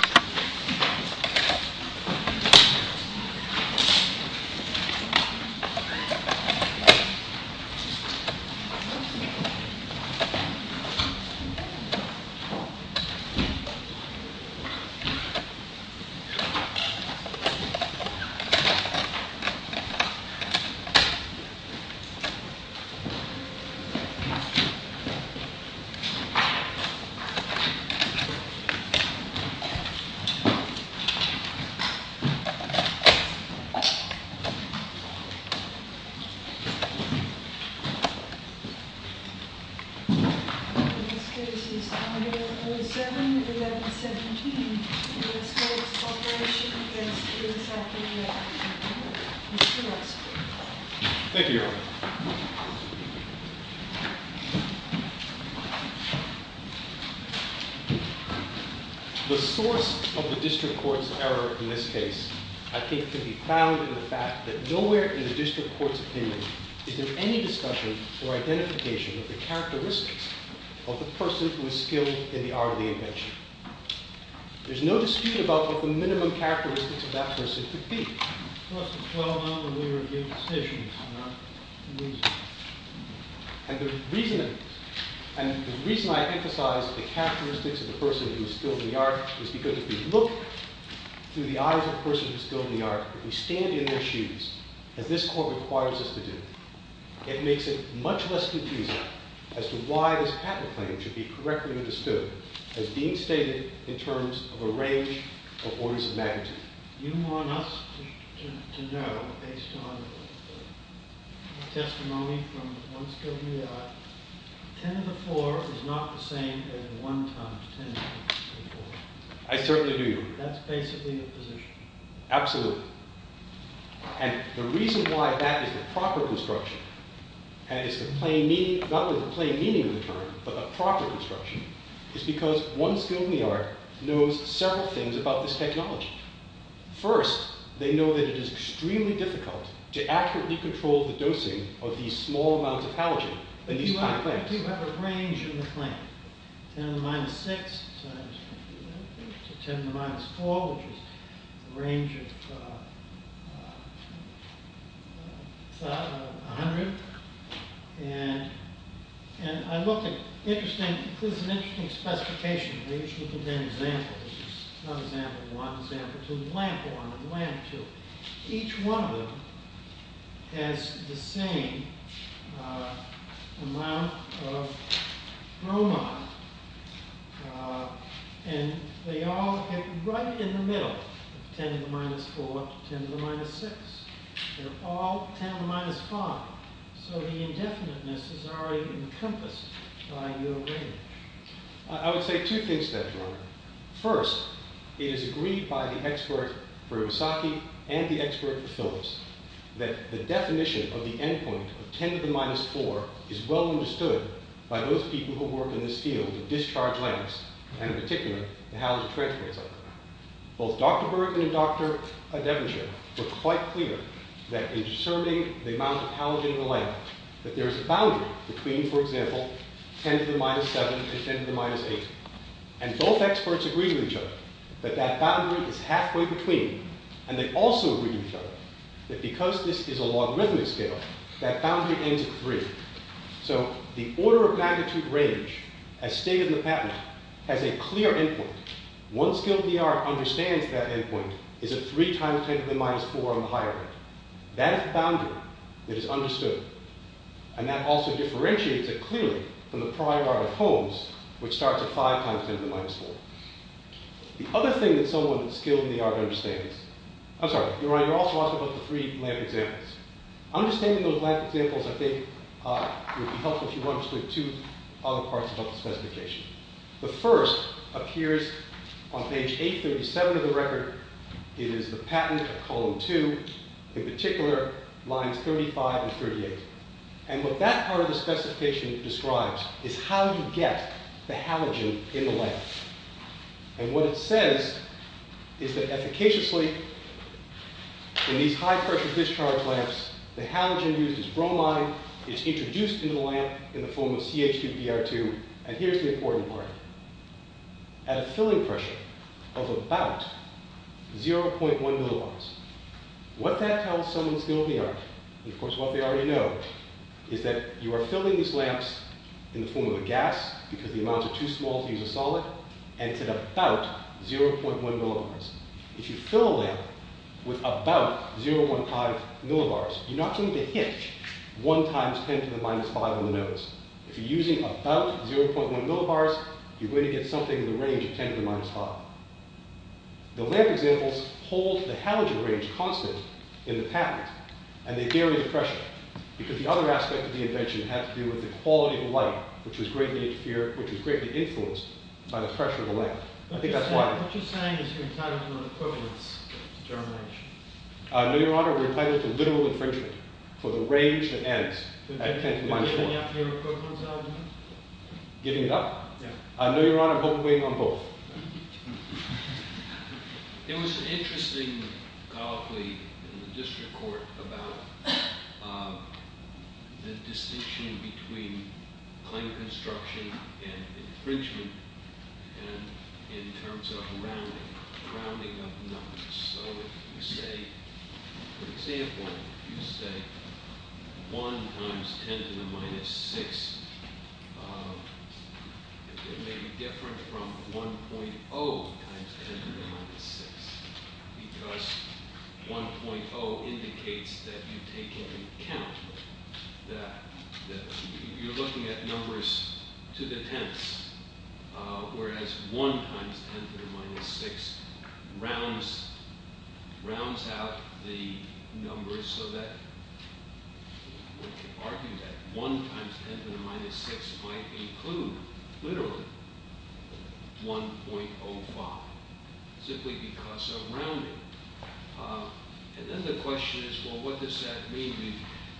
video. Thank you, Erin. The source of the district court's error in this case, I think, can be found in the fact that nowhere in the district court's opinion is there any discussion or identification of the characteristics of the person who is skilled in the art of the invention. There's no dispute about what the minimum characteristics of that person could be. And the reason I emphasize the characteristics of the person who is skilled in the art is because if we look through the eyes of the person who is skilled in the art, if we stand in their shoes, as this court requires us to do, it makes it much less confusing as to why this patent claim should be correctly understood as being stated in terms of a range of orders of magnitude. You want us to know, based on testimony from one skilled in the art, 10 to the 4 is not the same as 1 times 10 to the 4. I certainly do. That's basically the position. Absolutely. And the reason why that is the proper construction, and is the plain meaning, not only the plain meaning of the term, but the proper construction, is because one skilled in the art knows several things about this technology. First, they know that it is extremely difficult to accurately control the dosing of these small amounts of halogen in these kind of claims. You do have a range in the claim. 10 to the minus 6 times 10 to the minus 4, which is a range of 100. And I looked at interesting, this is an interesting specification. They usually contain examples. Not example 1, example 2, lamp 1 and lamp 2. Each one of them has the same amount of bromide. And they all hit right in the middle. 10 to the minus 4 to 10 to the minus 6. They're all 10 to the minus 5. So the indefiniteness is already encompassed by your range. I would say two things to that, George. First, it is agreed by the expert for Iwasaki and the expert for Phillips that the definition of the end point of 10 to the minus 4 is well understood by those people who work in this field of discharged lamps, and in particular, the halogen transfer. Both Dr. Berg and Dr. Devonshire were quite clear that in discerning the amount of halogen in a lamp, that there is a boundary between, for example, 10 to the minus 7 and 10 to the minus 8. And both experts agreed with each other that that boundary is halfway between. And they also agreed with each other that because this is a logarithmic scale, that boundary ends at 3. So the order of magnitude range, as stated in the patent, has a clear end point. One skilled ER understands that end point is at 3 times 10 to the minus 4 on the higher end. That is the boundary that is understood. And that also differentiates it clearly from the prior art of Holmes, which starts at 5 times 10 to the minus 4. The other thing that someone skilled in the art understands, I'm sorry, you're also asking about the three lamp examples. Understanding those lamp examples, I think, would be helpful if you understood two other parts of the specification. The first appears on page 837 of the record. It is the patent of column 2. In particular, lines 35 and 38. And what that part of the specification describes is how you get the halogen in the lamp. And what it says is that efficaciously, in these high-pressure discharge lamps, the halogen uses bromine. It's introduced into the lamp in the form of CH2Br2. And here's the important part. At a filling pressure of about 0.1 millibars. What that tells someone skilled in the art, and of course what they already know, is that you are filling these lamps in the form of a gas, because the amounts are too small to use a solid, and it's at about 0.1 millibars. If you fill a lamp with about 0.15 millibars, you're not going to hit 1 times 10 to the minus 5 on the nodes. If you're using about 0.1 millibars, you're going to get something in the range of 10 to the minus 5. The lamp examples hold the halogen range constant in the patent, and they vary the pressure. Because the other aspect of the invention had to do with the quality of light, which was greatly influenced by the pressure of the lamp. I think that's why. What you're saying is you're entitled to an equivalence determination. No, Your Honor, we're entitled to literal infringement for the range that ends at 10 to the minus 4. Are you giving up your equivalence argument? Giving it up? I know, Your Honor, hopefully I'm on both. There was an interesting colloquy in the district court about the distinction between claim construction and infringement, and in terms of rounding up numbers. So if you say, for example, 1 times 10 to the minus 6, it may be different from 1.0 times 10 to the minus 6, because 1.0 indicates that you take into account that you're looking at numbers to the tenths, whereas 1 times 10 to the minus 6 rounds out the numbers so that we can argue that 1 times 10 to the minus 6 might include literally 1.05, simply because of rounding. And then the question is, well, what does that mean?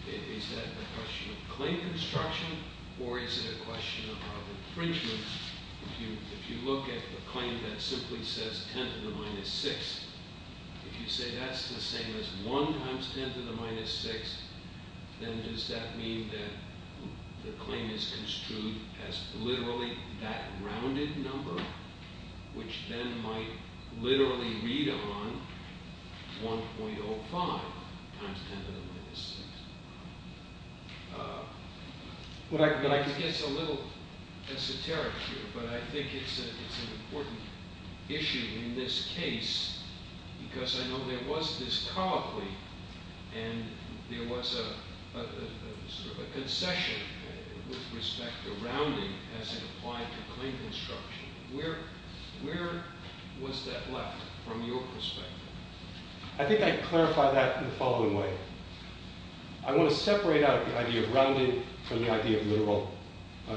Is that a question of claim construction, or is it a question of infringement? If you look at the claim that simply says 10 to the minus 6, if you say that's the same as 1 times 10 to the minus 6, then does that mean that the claim is construed as literally that rounded number, which then might literally read on 1.05 times 10 to the minus 6? But I think it's a little esoteric here, but I think it's an important issue in this case because I know there was this colloquy, and there was a concession with respect to rounding as it applied to claim construction. Where was that left from your perspective? I think I can clarify that in the following way. I want to separate out the idea of rounding from the idea of literal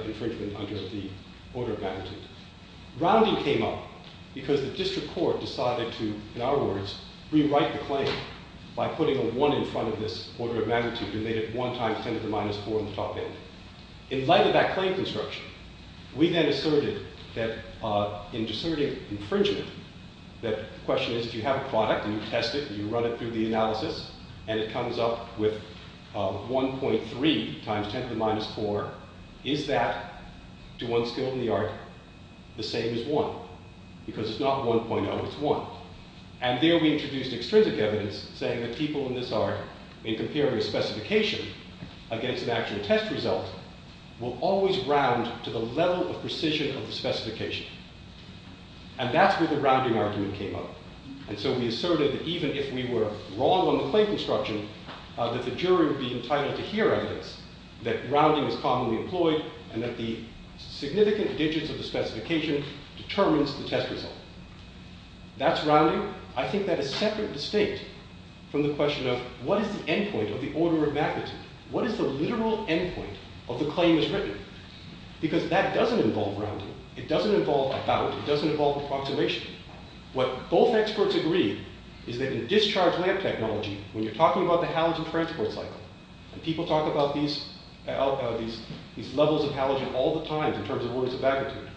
infringement under the order of magnitude. Rounding came up because the district court decided to, in our words, rewrite the claim by putting a 1 in front of this order of magnitude and made it 1 times 10 to the minus 4 on the top end. In light of that claim construction, we then asserted infringement. The question is, do you have a product, and you test it, and you run it through the analysis, and it comes up with 1.3 times 10 to the minus 4. Is that, to one skill in the art, the same as 1? Because it's not 1.0, it's 1. And there we introduced extrinsic evidence saying that people in this art, in comparing a specification against an actual test result, will always round to the level of precision of the specification. And that's where the rounding argument came up. And so we asserted that even if we were wrong on the claim construction, that the jury would be entitled to hear evidence that rounding is commonly employed and that the significant That's rounding. I think that is separate to state from the question of, what is the end point of the order of magnitude? What is the literal end point of the claim that's written? Because that doesn't involve rounding. It doesn't involve about. It doesn't involve approximation. What both experts agreed is that in discharge lamp technology, when you're talking about the halogen transport cycle, and people talk about these levels of halogen all the time in terms of orders of magnitude,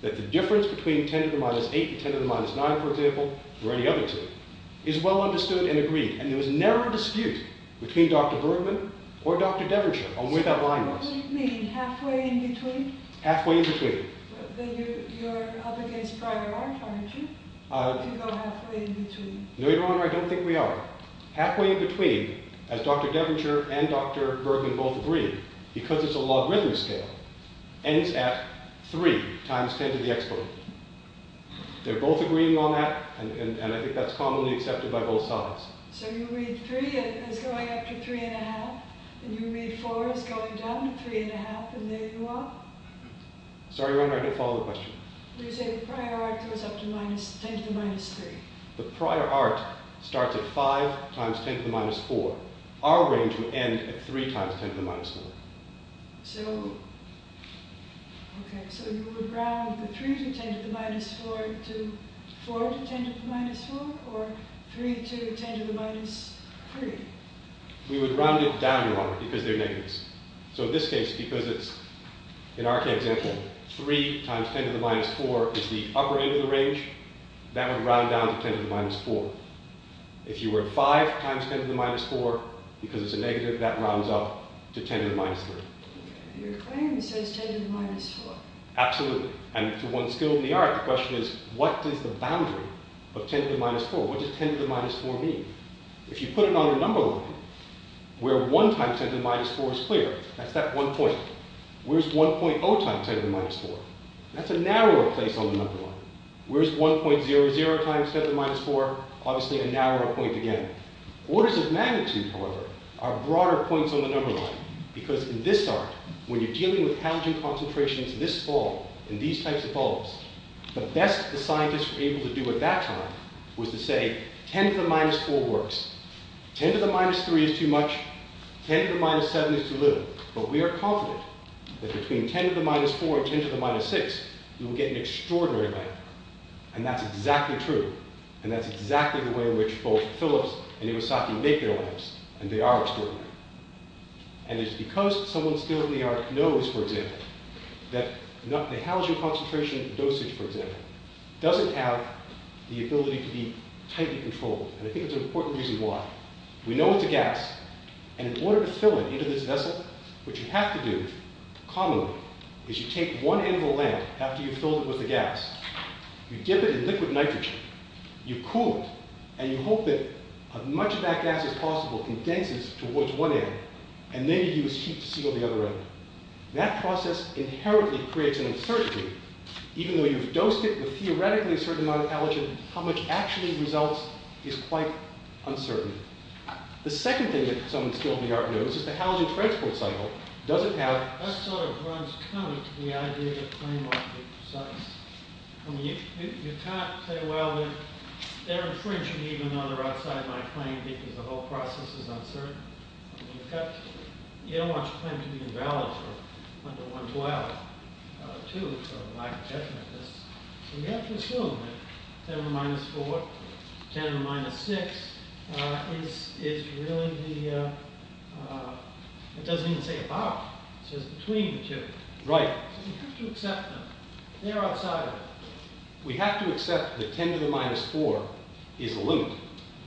that the difference between 10 to the minus 8 and 10 to the minus 9, for example, or any other two, is well understood and agreed. And there was never a dispute between Dr. Bergman or Dr. Devonshire on where that line was. So what do you mean, halfway in between? Halfway in between. Then you're up against Breyer-Arndt, aren't you? If you go halfway in between. No, Your Honor, I don't think we are. Halfway in between, as Dr. Devonshire and Dr. Bergman both agreed, because it's a logarithm scale, ends at 3 times 10 to the exponent. They're both agreeing on that, and I think that's commonly accepted by both sides. So you read 3 as going up to 3 1⁄2, and you read 4 as going down to 3 1⁄2, and there you are? Sorry, Your Honor, I didn't follow the question. You're saying Breyer-Arndt goes up to 10 to the minus 3. Breyer-Arndt starts at 5 times 10 to the minus 4. Our range would end at 3 times 10 to the minus 4. So, okay, so you would round the 3 to 10 to the minus 4 to 4 to 10 to the minus 4, or 3 to 10 to the minus 3? We would round it down, Your Honor, because they're negatives. So in this case, because it's, in our example, 3 times 10 to the minus 4 is the upper end of the range, that would round down to 10 to the minus 4. If you were at 5 times 10 to the minus 4, because it's a negative, that rounds up to 10 to the minus 3. Your claim says 10 to the minus 4. Absolutely. And to one skilled in the art, the question is, what is the boundary of 10 to the minus 4? What does 10 to the minus 4 mean? If you put it on a number line, where 1 times 10 to the minus 4 is clear, that's that one point. Where's 1.0 times 10 to the minus 4? That's a narrower place on the number line. Where's 1.00 times 10 to the minus 4? Obviously a narrower point again. Orders of magnitude, however, are broader points on the number line. Because in this art, when you're dealing with halogen concentrations this small, in these types of bulbs, the best the scientists were able to do at that time was to say, 10 to the minus 4 works. 10 to the minus 3 is too much. 10 to the minus 7 is too little. But we are confident that between 10 to the minus 4 and 10 to the minus 6, you will get an extraordinary lamp. And that's exactly true. And that's exactly the way in which both Phillips and Iwasaki make their lamps. And they are extraordinary. And it's because someone skilled in the art knows, for example, that the halogen concentration dosage, for example, doesn't have the ability to be tightly controlled. And I think there's an important reason why. We know it's a gas. And in order to fill it into this vessel, what you have to do, commonly, is you take one end of the lamp, after you've filled it with the gas, you dip it in liquid nitrogen, you cool it, and you hope that as much of that gas as possible condenses towards one end, and then you use heat to seal the other end. That process inherently creates an uncertainty. Even though you've dosed it with theoretically a certain amount of halogen, how much actually results is quite uncertain. The second thing that someone skilled in the art knows is the halogen transport cycle doesn't have... That sort of runs counter to the idea that claimants are precise. I mean, you can't say, well, they're infringing even though they're outside my claim because the whole process is uncertain. I mean, you don't want your claim to be invalid for under 112, too, for lack of definiteness. So you have to assume that 10 to the minus 4, 10 to the minus 6, is really the... It doesn't even say about. It says between the two. So you have to accept them. They're outside of it. We have to accept that 10 to the minus 4 is a limit.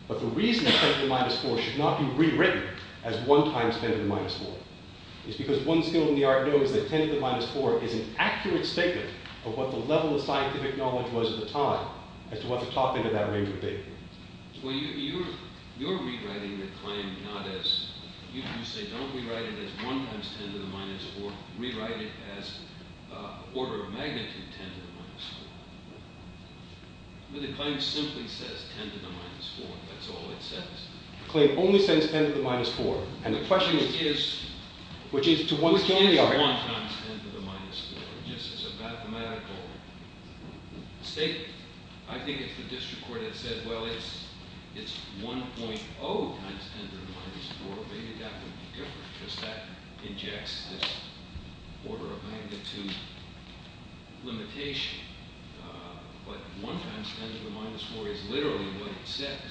But the reason 10 to the minus 4 should not be rewritten as 1 times 10 to the minus 4 is because one skilled in the art knows that 10 to the minus 4 is an accurate statement of what the level of scientific knowledge was at the time as to what the top end of that range would be. Well, you're rewriting the claim not as... You say, don't rewrite it as 1 times 10 to the minus 4. Rewrite it as order of magnitude 10 to the minus 4. But the claim simply says 10 to the minus 4. That's all it says. The claim only says 10 to the minus 4. And the question is, which is to one skilled in the art... 1 times 10 to the minus 4, just as a mathematical statement. I think if the district court had said, well, it's 1.0 times 10 to the minus 4, maybe that would be different because that injects this order of magnitude limitation. But 1 times 10 to the minus 4 is literally what it says.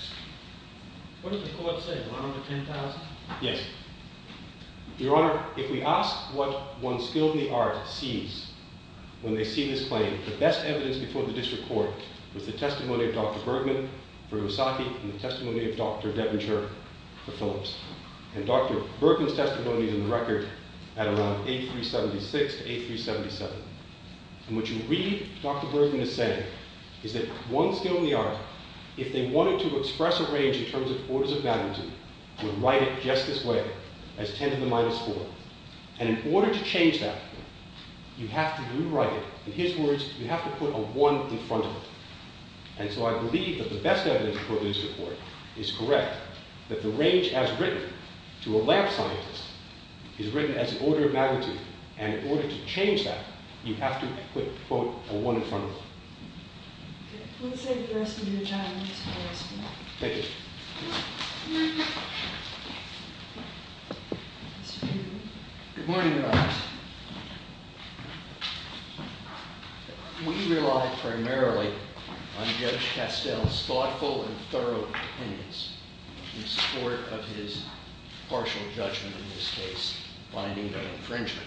What did the court say? 1 under 10,000? Yes. Your Honor, if we ask what one skilled in the art sees when they see this claim, the best evidence before the district court was the testimony of Dr. Bergman for Iwasaki and the testimony of Dr. Deventer for Phillips. And Dr. Bergman's testimony is in the record at around 8376 to 8377. And what you read Dr. Bergman as saying is that one skilled in the art if they wanted to express a range in terms of orders of magnitude would write it just this way as 10 to the minus 4. And in order to change that you have to rewrite it in his words, you have to put a 1 in front of it. And so I believe that the best evidence before the district court is correct that the range as written to a lab scientist is written as an order of magnitude and in order to change that you have to put, quote, a 1 in front of it. We'll save the rest of your time. Thank you. Good morning Your Honor. We rely primarily on Judge Castell's thoughtful and thorough opinions in support of his partial judgment in this case finding of infringement.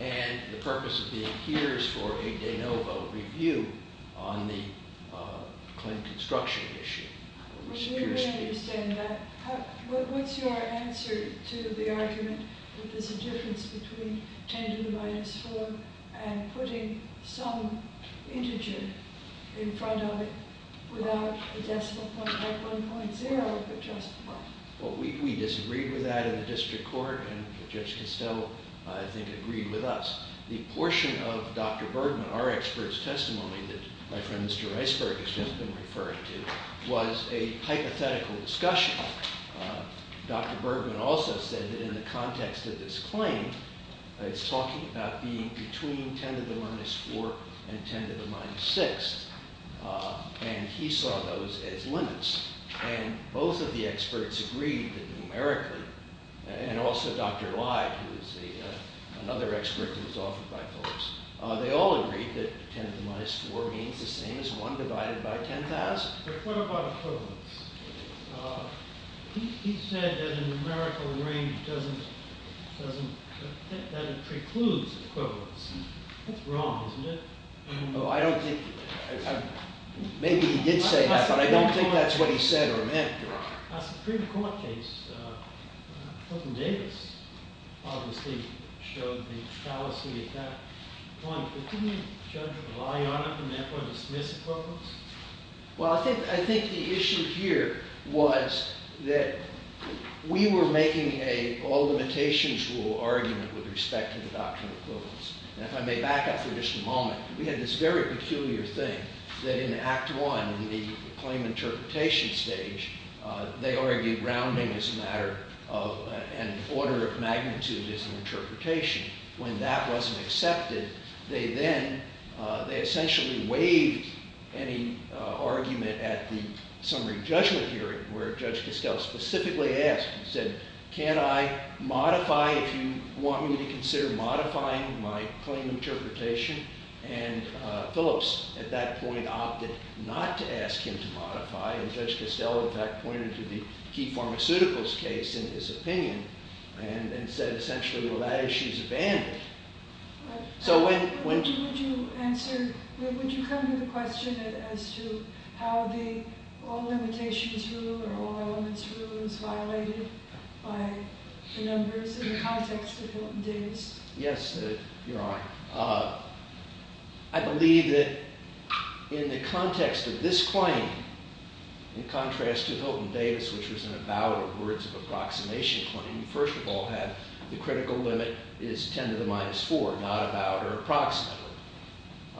And the purpose of being here is for a de novo review on the Clinton construction issue. We understand that. What's your answer to the argument that there's a difference between 10 to the minus 4 and putting some integer in front of it without a decimal point like 1.0? We disagreed with that in the district court and Judge Castell I think agreed with us. The portion of Dr. Bergman, our expert's testimony that my friend Mr. Riceburg has just been referring to was a hypothetical discussion. Dr. Bergman also said that in the context of this claim it's talking about being between 10 to the minus 4 and 10 to the minus 6 and he saw those as limits and both of the experts agreed that numerically and also Dr. Lye who is another expert who was offered by Phillips, they all agreed that 10 to the minus 4 means the same as 1 divided by 10,000. But what about equivalence? He said that a numerical range doesn't precludes equivalence. That's wrong, isn't it? I don't think maybe he did say that, but I don't think that's what he said or meant, Your Honor. A Supreme Court case Hilton Davis obviously showed the fallacy at that point but didn't Judge Lye, Your Honor, from that point dismiss equivalence? Well, I think the issue here was that we were making a all limitations rule argument with respect to the doctrine of equivalence and if I may back up for just a moment we had this very peculiar thing that in Act 1 in the claim interpretation stage they argued rounding is a matter of an order of magnitude as an interpretation. When that wasn't accepted they essentially waived any argument at the summary judgment hearing where Judge Costello specifically asked, he said, can I modify if you want me to consider modifying my claim interpretation? Phillips at that point opted not to ask him to modify and Judge Costello in fact pointed to the Key Pharmaceuticals case in his opinion and said essentially well that issue is abandoned. So when Would you come to the question as to how the all limitations rule or all elements rule is violated by the numbers in the context of Hilton Davis? Yes, Your Honor. I believe that in the context of this claim in contrast to Hilton Davis which was an about or words of approximation claim, first of all had the critical limit is 10 to the minus 4 not about or approximately.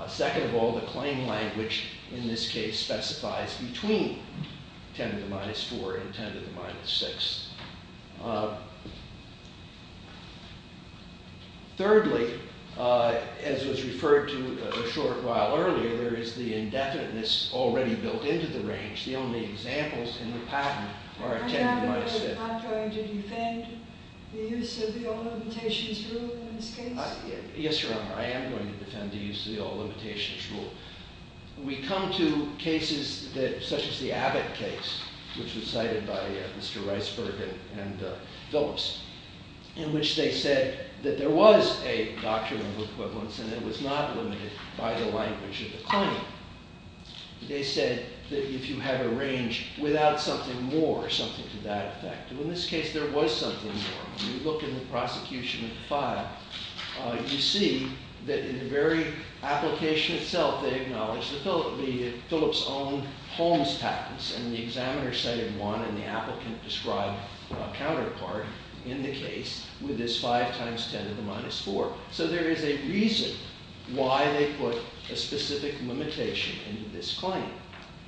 Second of all, the claim language in this case specifies between 10 to the minus 4 and 10 to the minus 6. Thirdly, as was referred to a short while earlier, there is the indefiniteness already built into the range. The only examples in the patent are 10 to the minus 6. Yes, Your Honor. I am going to defend the use of the all limitations rule. We come to cases that such as the Abbott case which was cited by Mr. Weisberg and Phillips in which they said that there was a doctrine of equivalence and it was not limited by the language of the claim. They said that if you have a range without something more, something to that effect. In this case, there was something more. When you look in the prosecution file, you see that in the very application itself, they acknowledge the Phillips' own Holmes patents and the examiner cited one and the applicant described a counterpart in the case with this 5 times 10 to the minus 4. So there is a reason why they put a specific limitation in this claim.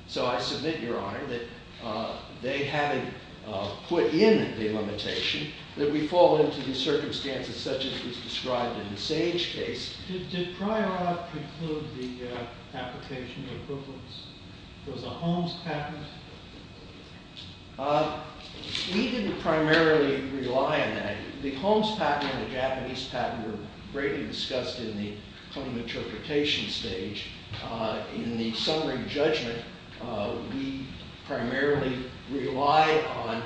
So I submit, Your Honor, that they having put in the limitation that we fall into the circumstances such as is described in the Sage case. Did prior art include the application of equivalence? Was it a Holmes patent? We didn't primarily rely on that. The Holmes patent and the Japanese patent were greatly discussed in the claim interpretation stage. In the summary judgment, we primarily relied on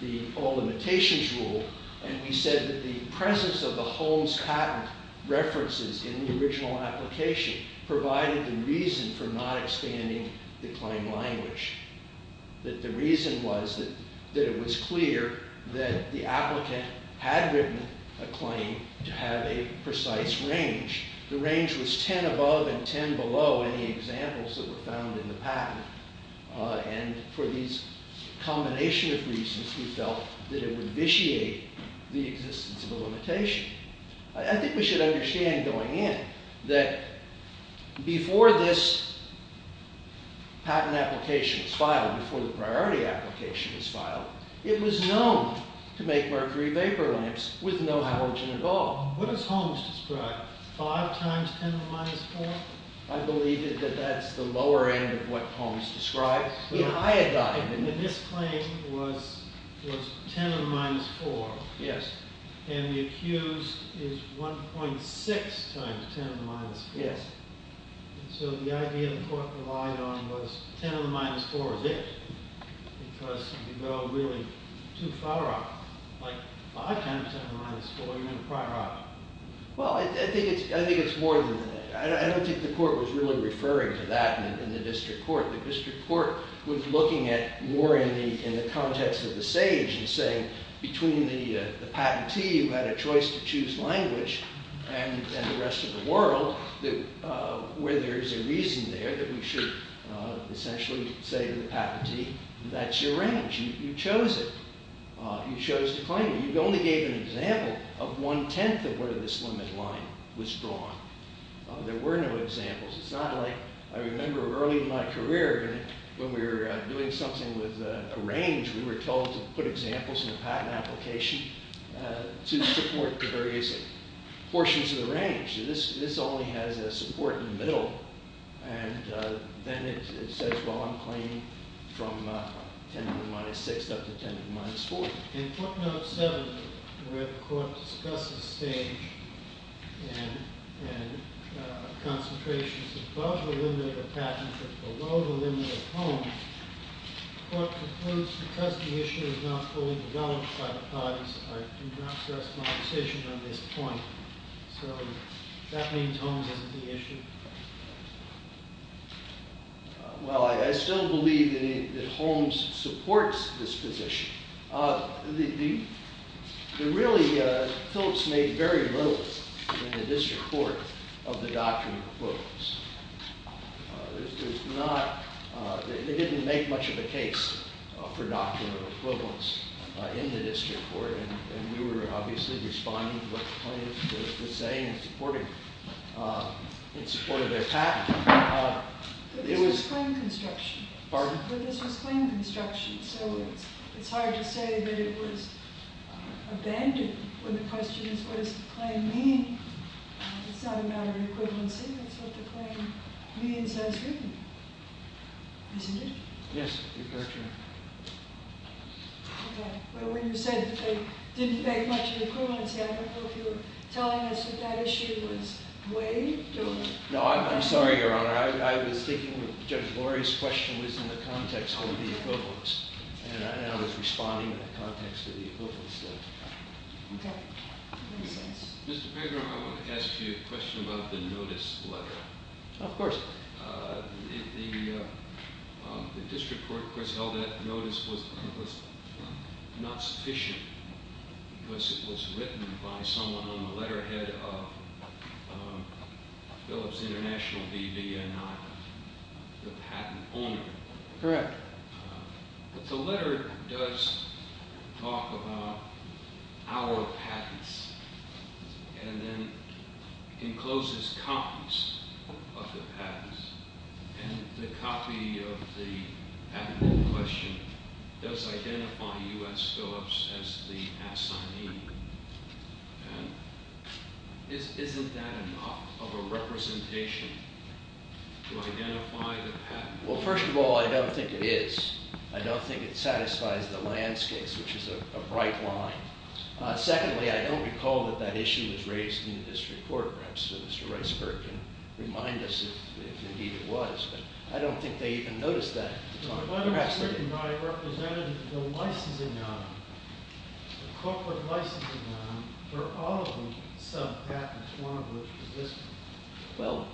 the all limitations rule and we said that the presence of the Holmes patent references in the original application provided the reason for not expanding the claim language. That the reason was that it was clear that the applicant had written a claim to have a precise range. The range was 10 above and 10 below any examples that were found in the patent and for these combination of reasons we felt that it would vitiate the existence of a limitation. I think we should understand going in that before this patent application was filed, before the priority application was filed, it was known to make mercury vapor lamps with no halogen at all. What does Holmes describe? 5 times 10 to the minus 4? I believe that that's the lower end of what Holmes describes. The iodine in this claim was 10 to the minus 4. Yes. And the accused is 1.6 times 10 to the minus 4. Yes. So the idea the court relied on was 10 to the minus 4 because you go really too far off. Like, 5 times 10 to the minus 4, you're going to cry out. Well, I think it's more than that. I don't think the court was really referring to that in the district court. The district court was looking at more in the context of the sage and saying between the patentee who had a choice to choose language and the rest of the world where there's a reason there that we should essentially say to the patentee that's your range. You chose it. You chose to claim it. You only gave an example of one-tenth of where this limit line was drawn. There were no examples. It's not like I remember early in my career when we were doing something with a range, we were told to put examples to support the various portions of the range. This only has a support in the middle and then it says, well, I'm claiming from 10 to the minus 6 up to 10 to the minus 4. In court note 7, where the court discusses sage and concentrations above the limit of the patentee but below the limit of Holmes, the court concludes because the issue is not fully developed by the parties, I do not stress my position on this point. So, that means Holmes isn't the issue? Well, I still believe that Holmes supports this position. The really, Phillips made very little in the district court of the doctrine of equivalence. There's not, they didn't make much of a case for doctrine of equivalence in the district court and we were obviously responding to what the plaintiff was saying and supporting in support of their patent. But this was claim construction. Pardon? But this was claim construction, so it's hard to say that it was abandoned when the question is what does the claim mean? It's not a matter of equivalency, it's what the claim means as written, isn't it? Yes, you're correct. Okay. Well, when you said that they didn't make much of an equivalency, I don't know if you were telling us that that issue was waived? No, I'm sorry, Your Honor, I was thinking that Judge Lori's question was in the context of the equivalence and I was responding in the context of the equivalence. Okay. Mr. Pagner, I want to ask you a question about the notice letter. Of course. The district court, of course, held that notice was not sufficient because it was written by someone on the letterhead of Phillips International, the patent owner. Correct. The letter does talk about our patents and then encloses copies of the patents and the copy of the admitted question does identify U.S. Phillips as the assignee. Isn't that enough of a representation to identify the patent? Well, first of all, I don't think it is. I don't think it satisfies the landscape, which is a bright line. Secondly, I don't recall that that issue was raised in the district court. Perhaps Mr. Reisberg can remind us if indeed it was. I don't think they even noticed that. The letter was written by a representative of the licensing arm, the corporate licensing arm for all of the sub-patents, one of which is this one. Well,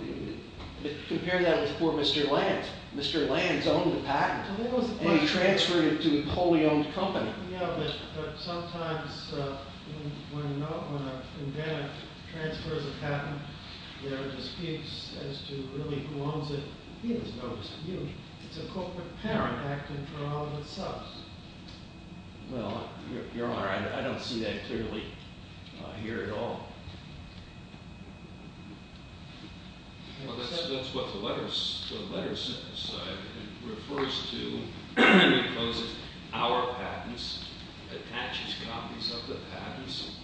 compare that with poor Mr. Lanz. Mr. Lanz owned the patent and he transferred it to a wholly-owned company. Yeah, but sometimes when a defendant transfers a patent, there are disputes as to really who owns it. He has no dispute. It's a corporate parent acting for all of its subs. Well, Your Honor, I don't see that clearly here at all. Well, that's what the letter says. It refers to because our patents attaches copies of the patents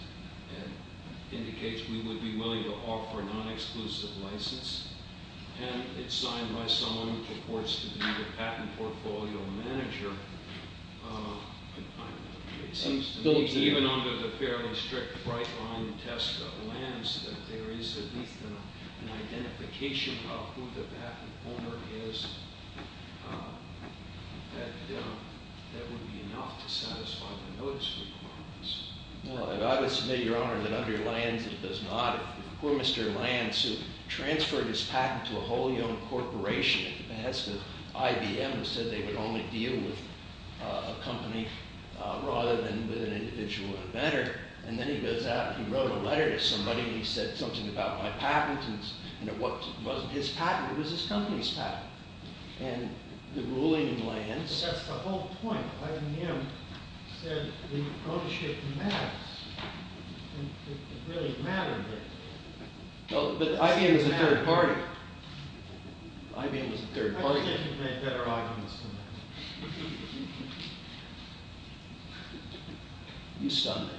and indicates we would be willing to offer a non-exclusive license and it's signed by someone who reports to be the patent portfolio manager. It seems to me even under the fairly strict bright-line test of Lanz that there is at least an identification of who the patent owner is that would be enough to satisfy the notice requirements. Well, I would submit, Your Honor, that under Lanz it does not. Poor Mr. Lanz transferred his patent to a whole young corporation. It has to IBM who said they would only deal with a company rather than with an individual inventor. And then he goes out and he wrote a letter to somebody and he said something about my patent and it wasn't his patent, it was his company's patent. And the ruling in Lanz That's the whole point. Lanz said the ownership matters. It really mattered. But IBM was a third party. IBM was a third party. You stunned me.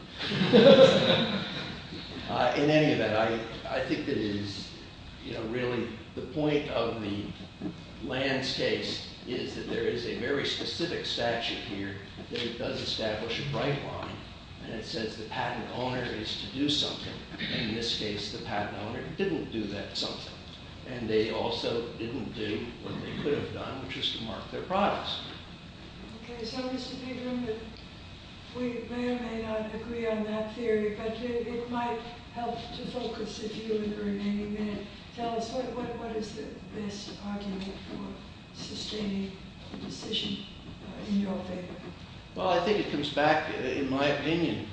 In any event, I think it is, you know, really the point of the Lanz case is that there is a very specific statute here that it does establish a bright-line and it says the patent owner is to do something. And in this case the patent owner didn't do that something. And they also didn't do what they could have done, which was to mark their products. Okay, so Mr. Pederman, we may or may not agree on that theory, but it might help to focus the view in the remaining minute. Tell us, what is the best argument for sustaining the decision in your favor? Well, I think it comes back, in my opinion,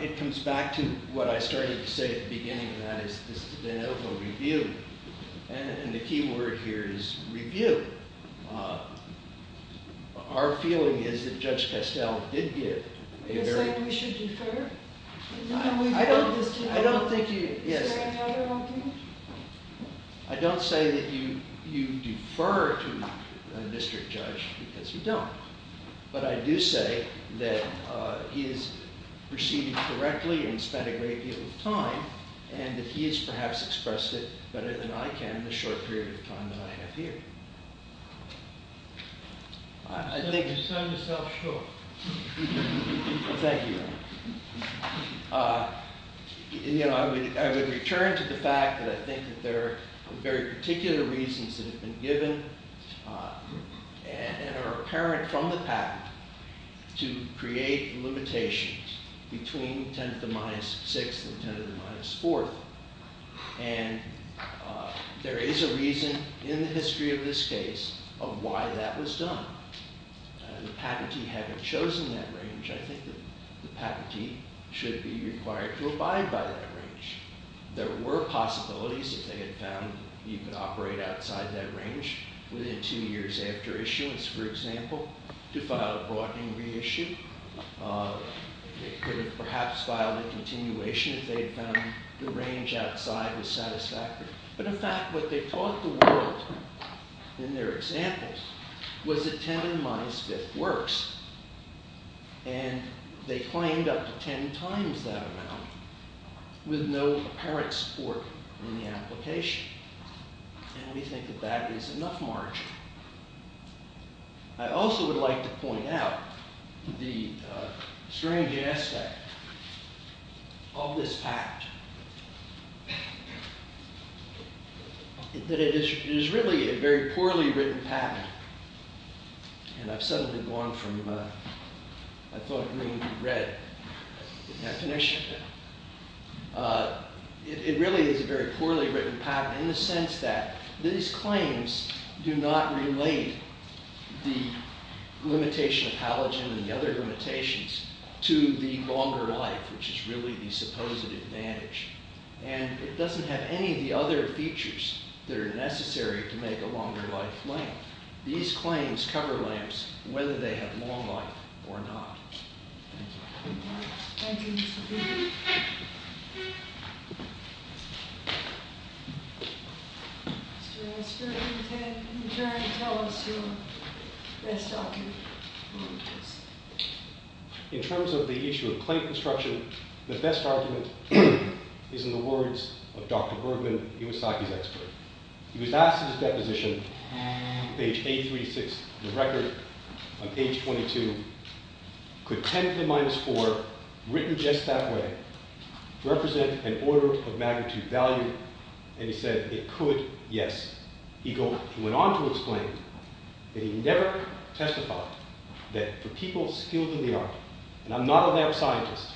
it comes back to what I started to say at the beginning, and that is this de novo review. And the key word here is review. Our feeling is that Judge Castell did give a very... It looks like we should defer? I don't think you... Is there another argument? I don't say that you defer to a district judge because you don't. But I do say that he has proceeded correctly and spent a great deal of time and that he has perhaps expressed it better than I can in the short period of time that I have here. You've shown yourself short. Thank you. You know, I would return to the fact that I think that there are very particular reasons that have been given and are apparent from the patent to create limitations between 10 to the minus 6th and 10 to the minus 4th. And there is a reason in the history of this case of why that was done. The patentee having chosen that range, I think that the patentee should be required to abide by that range. There were possibilities if they had found you could operate outside that range within two years after issuance for example, to file a broadening reissue. They could have perhaps filed a continuation if they had found the range outside was satisfactory. But in fact, what they taught the world in their examples was that 10 to the minus 5th works. And they claimed up to 10 times that amount with no apparent support in the application. And we think that that is enough margin. I also would like to point out the strange aspect of this patent. That it is really a very poorly written patent. And I've suddenly gone from I thought green to red definition. It really is a very poorly written patent in the sense that these claims do not relate the limitation of halogen and the other limitations to the longer life which is really the supposed advantage. And it doesn't have any of the other features that are necessary to make a longer life lamp. These claims cover lamps whether they have long life or not. Thank you. Mr. Esker, you can return and tell us your best argument. In terms of the issue of claim construction, the best argument is in the words of Dr. Bergman, Iwasaki's expert. He was asked in his deposition page 836 of the record on page 22 could 10 to the minus 4 written just that way represent an order of magnitude value? And he said it could, yes. He went on to explain that he never testified that for people skilled in the art and I'm not a lamp scientist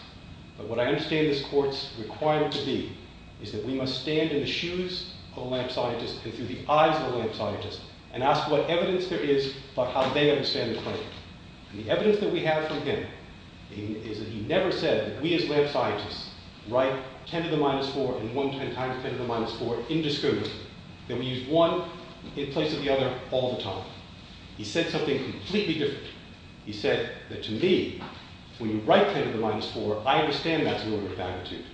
but what I understand this court's requirement to be is that we must stand in the shoes of a lamp scientist and through the eyes of a lamp scientist and ask what evidence there is about how they understand the claim. The evidence that we have from him is that he never said that we as lamp scientists write 10 to the minus 4 and 110 times 10 to the minus 4 indiscriminately. That we use one in place of the other all the time. He said something completely different. He said that to me when you write 10 to the minus 4 I understand that's an order of magnitude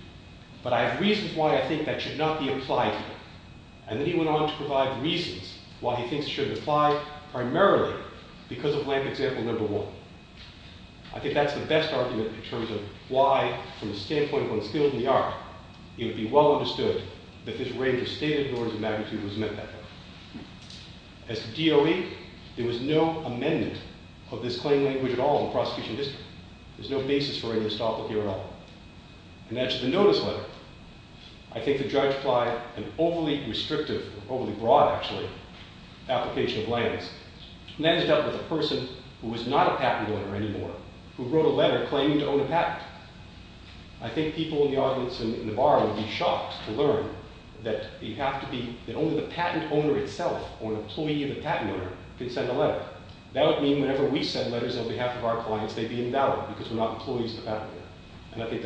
but I have reasons why I think that should not be applied here. And then he went on to provide reasons why he thinks it should apply primarily because of lamp example number one. I think that's the best argument in terms of why from the standpoint of one skilled in the art it would be well understood that this range of stated orders of magnitude was met that way. As to DOE, there was no amendment of this claim language at all in the prosecution district. There's no basis for any estoppel here at all. And as to the notice letter, I think the judge applied an overly restrictive, overly broad actually, application of lands. And that is dealt with a person who is not a patent owner anymore who wrote a letter claiming to own a patent. I think people in the audience in the bar would be shocked to learn that you have to be that only the patent owner itself or an employee of the patent owner can send a letter. That would mean whenever we send letters on behalf of our clients they'd be invalid because we're not employees of the patent owner. And I think that's just wrong. All rise.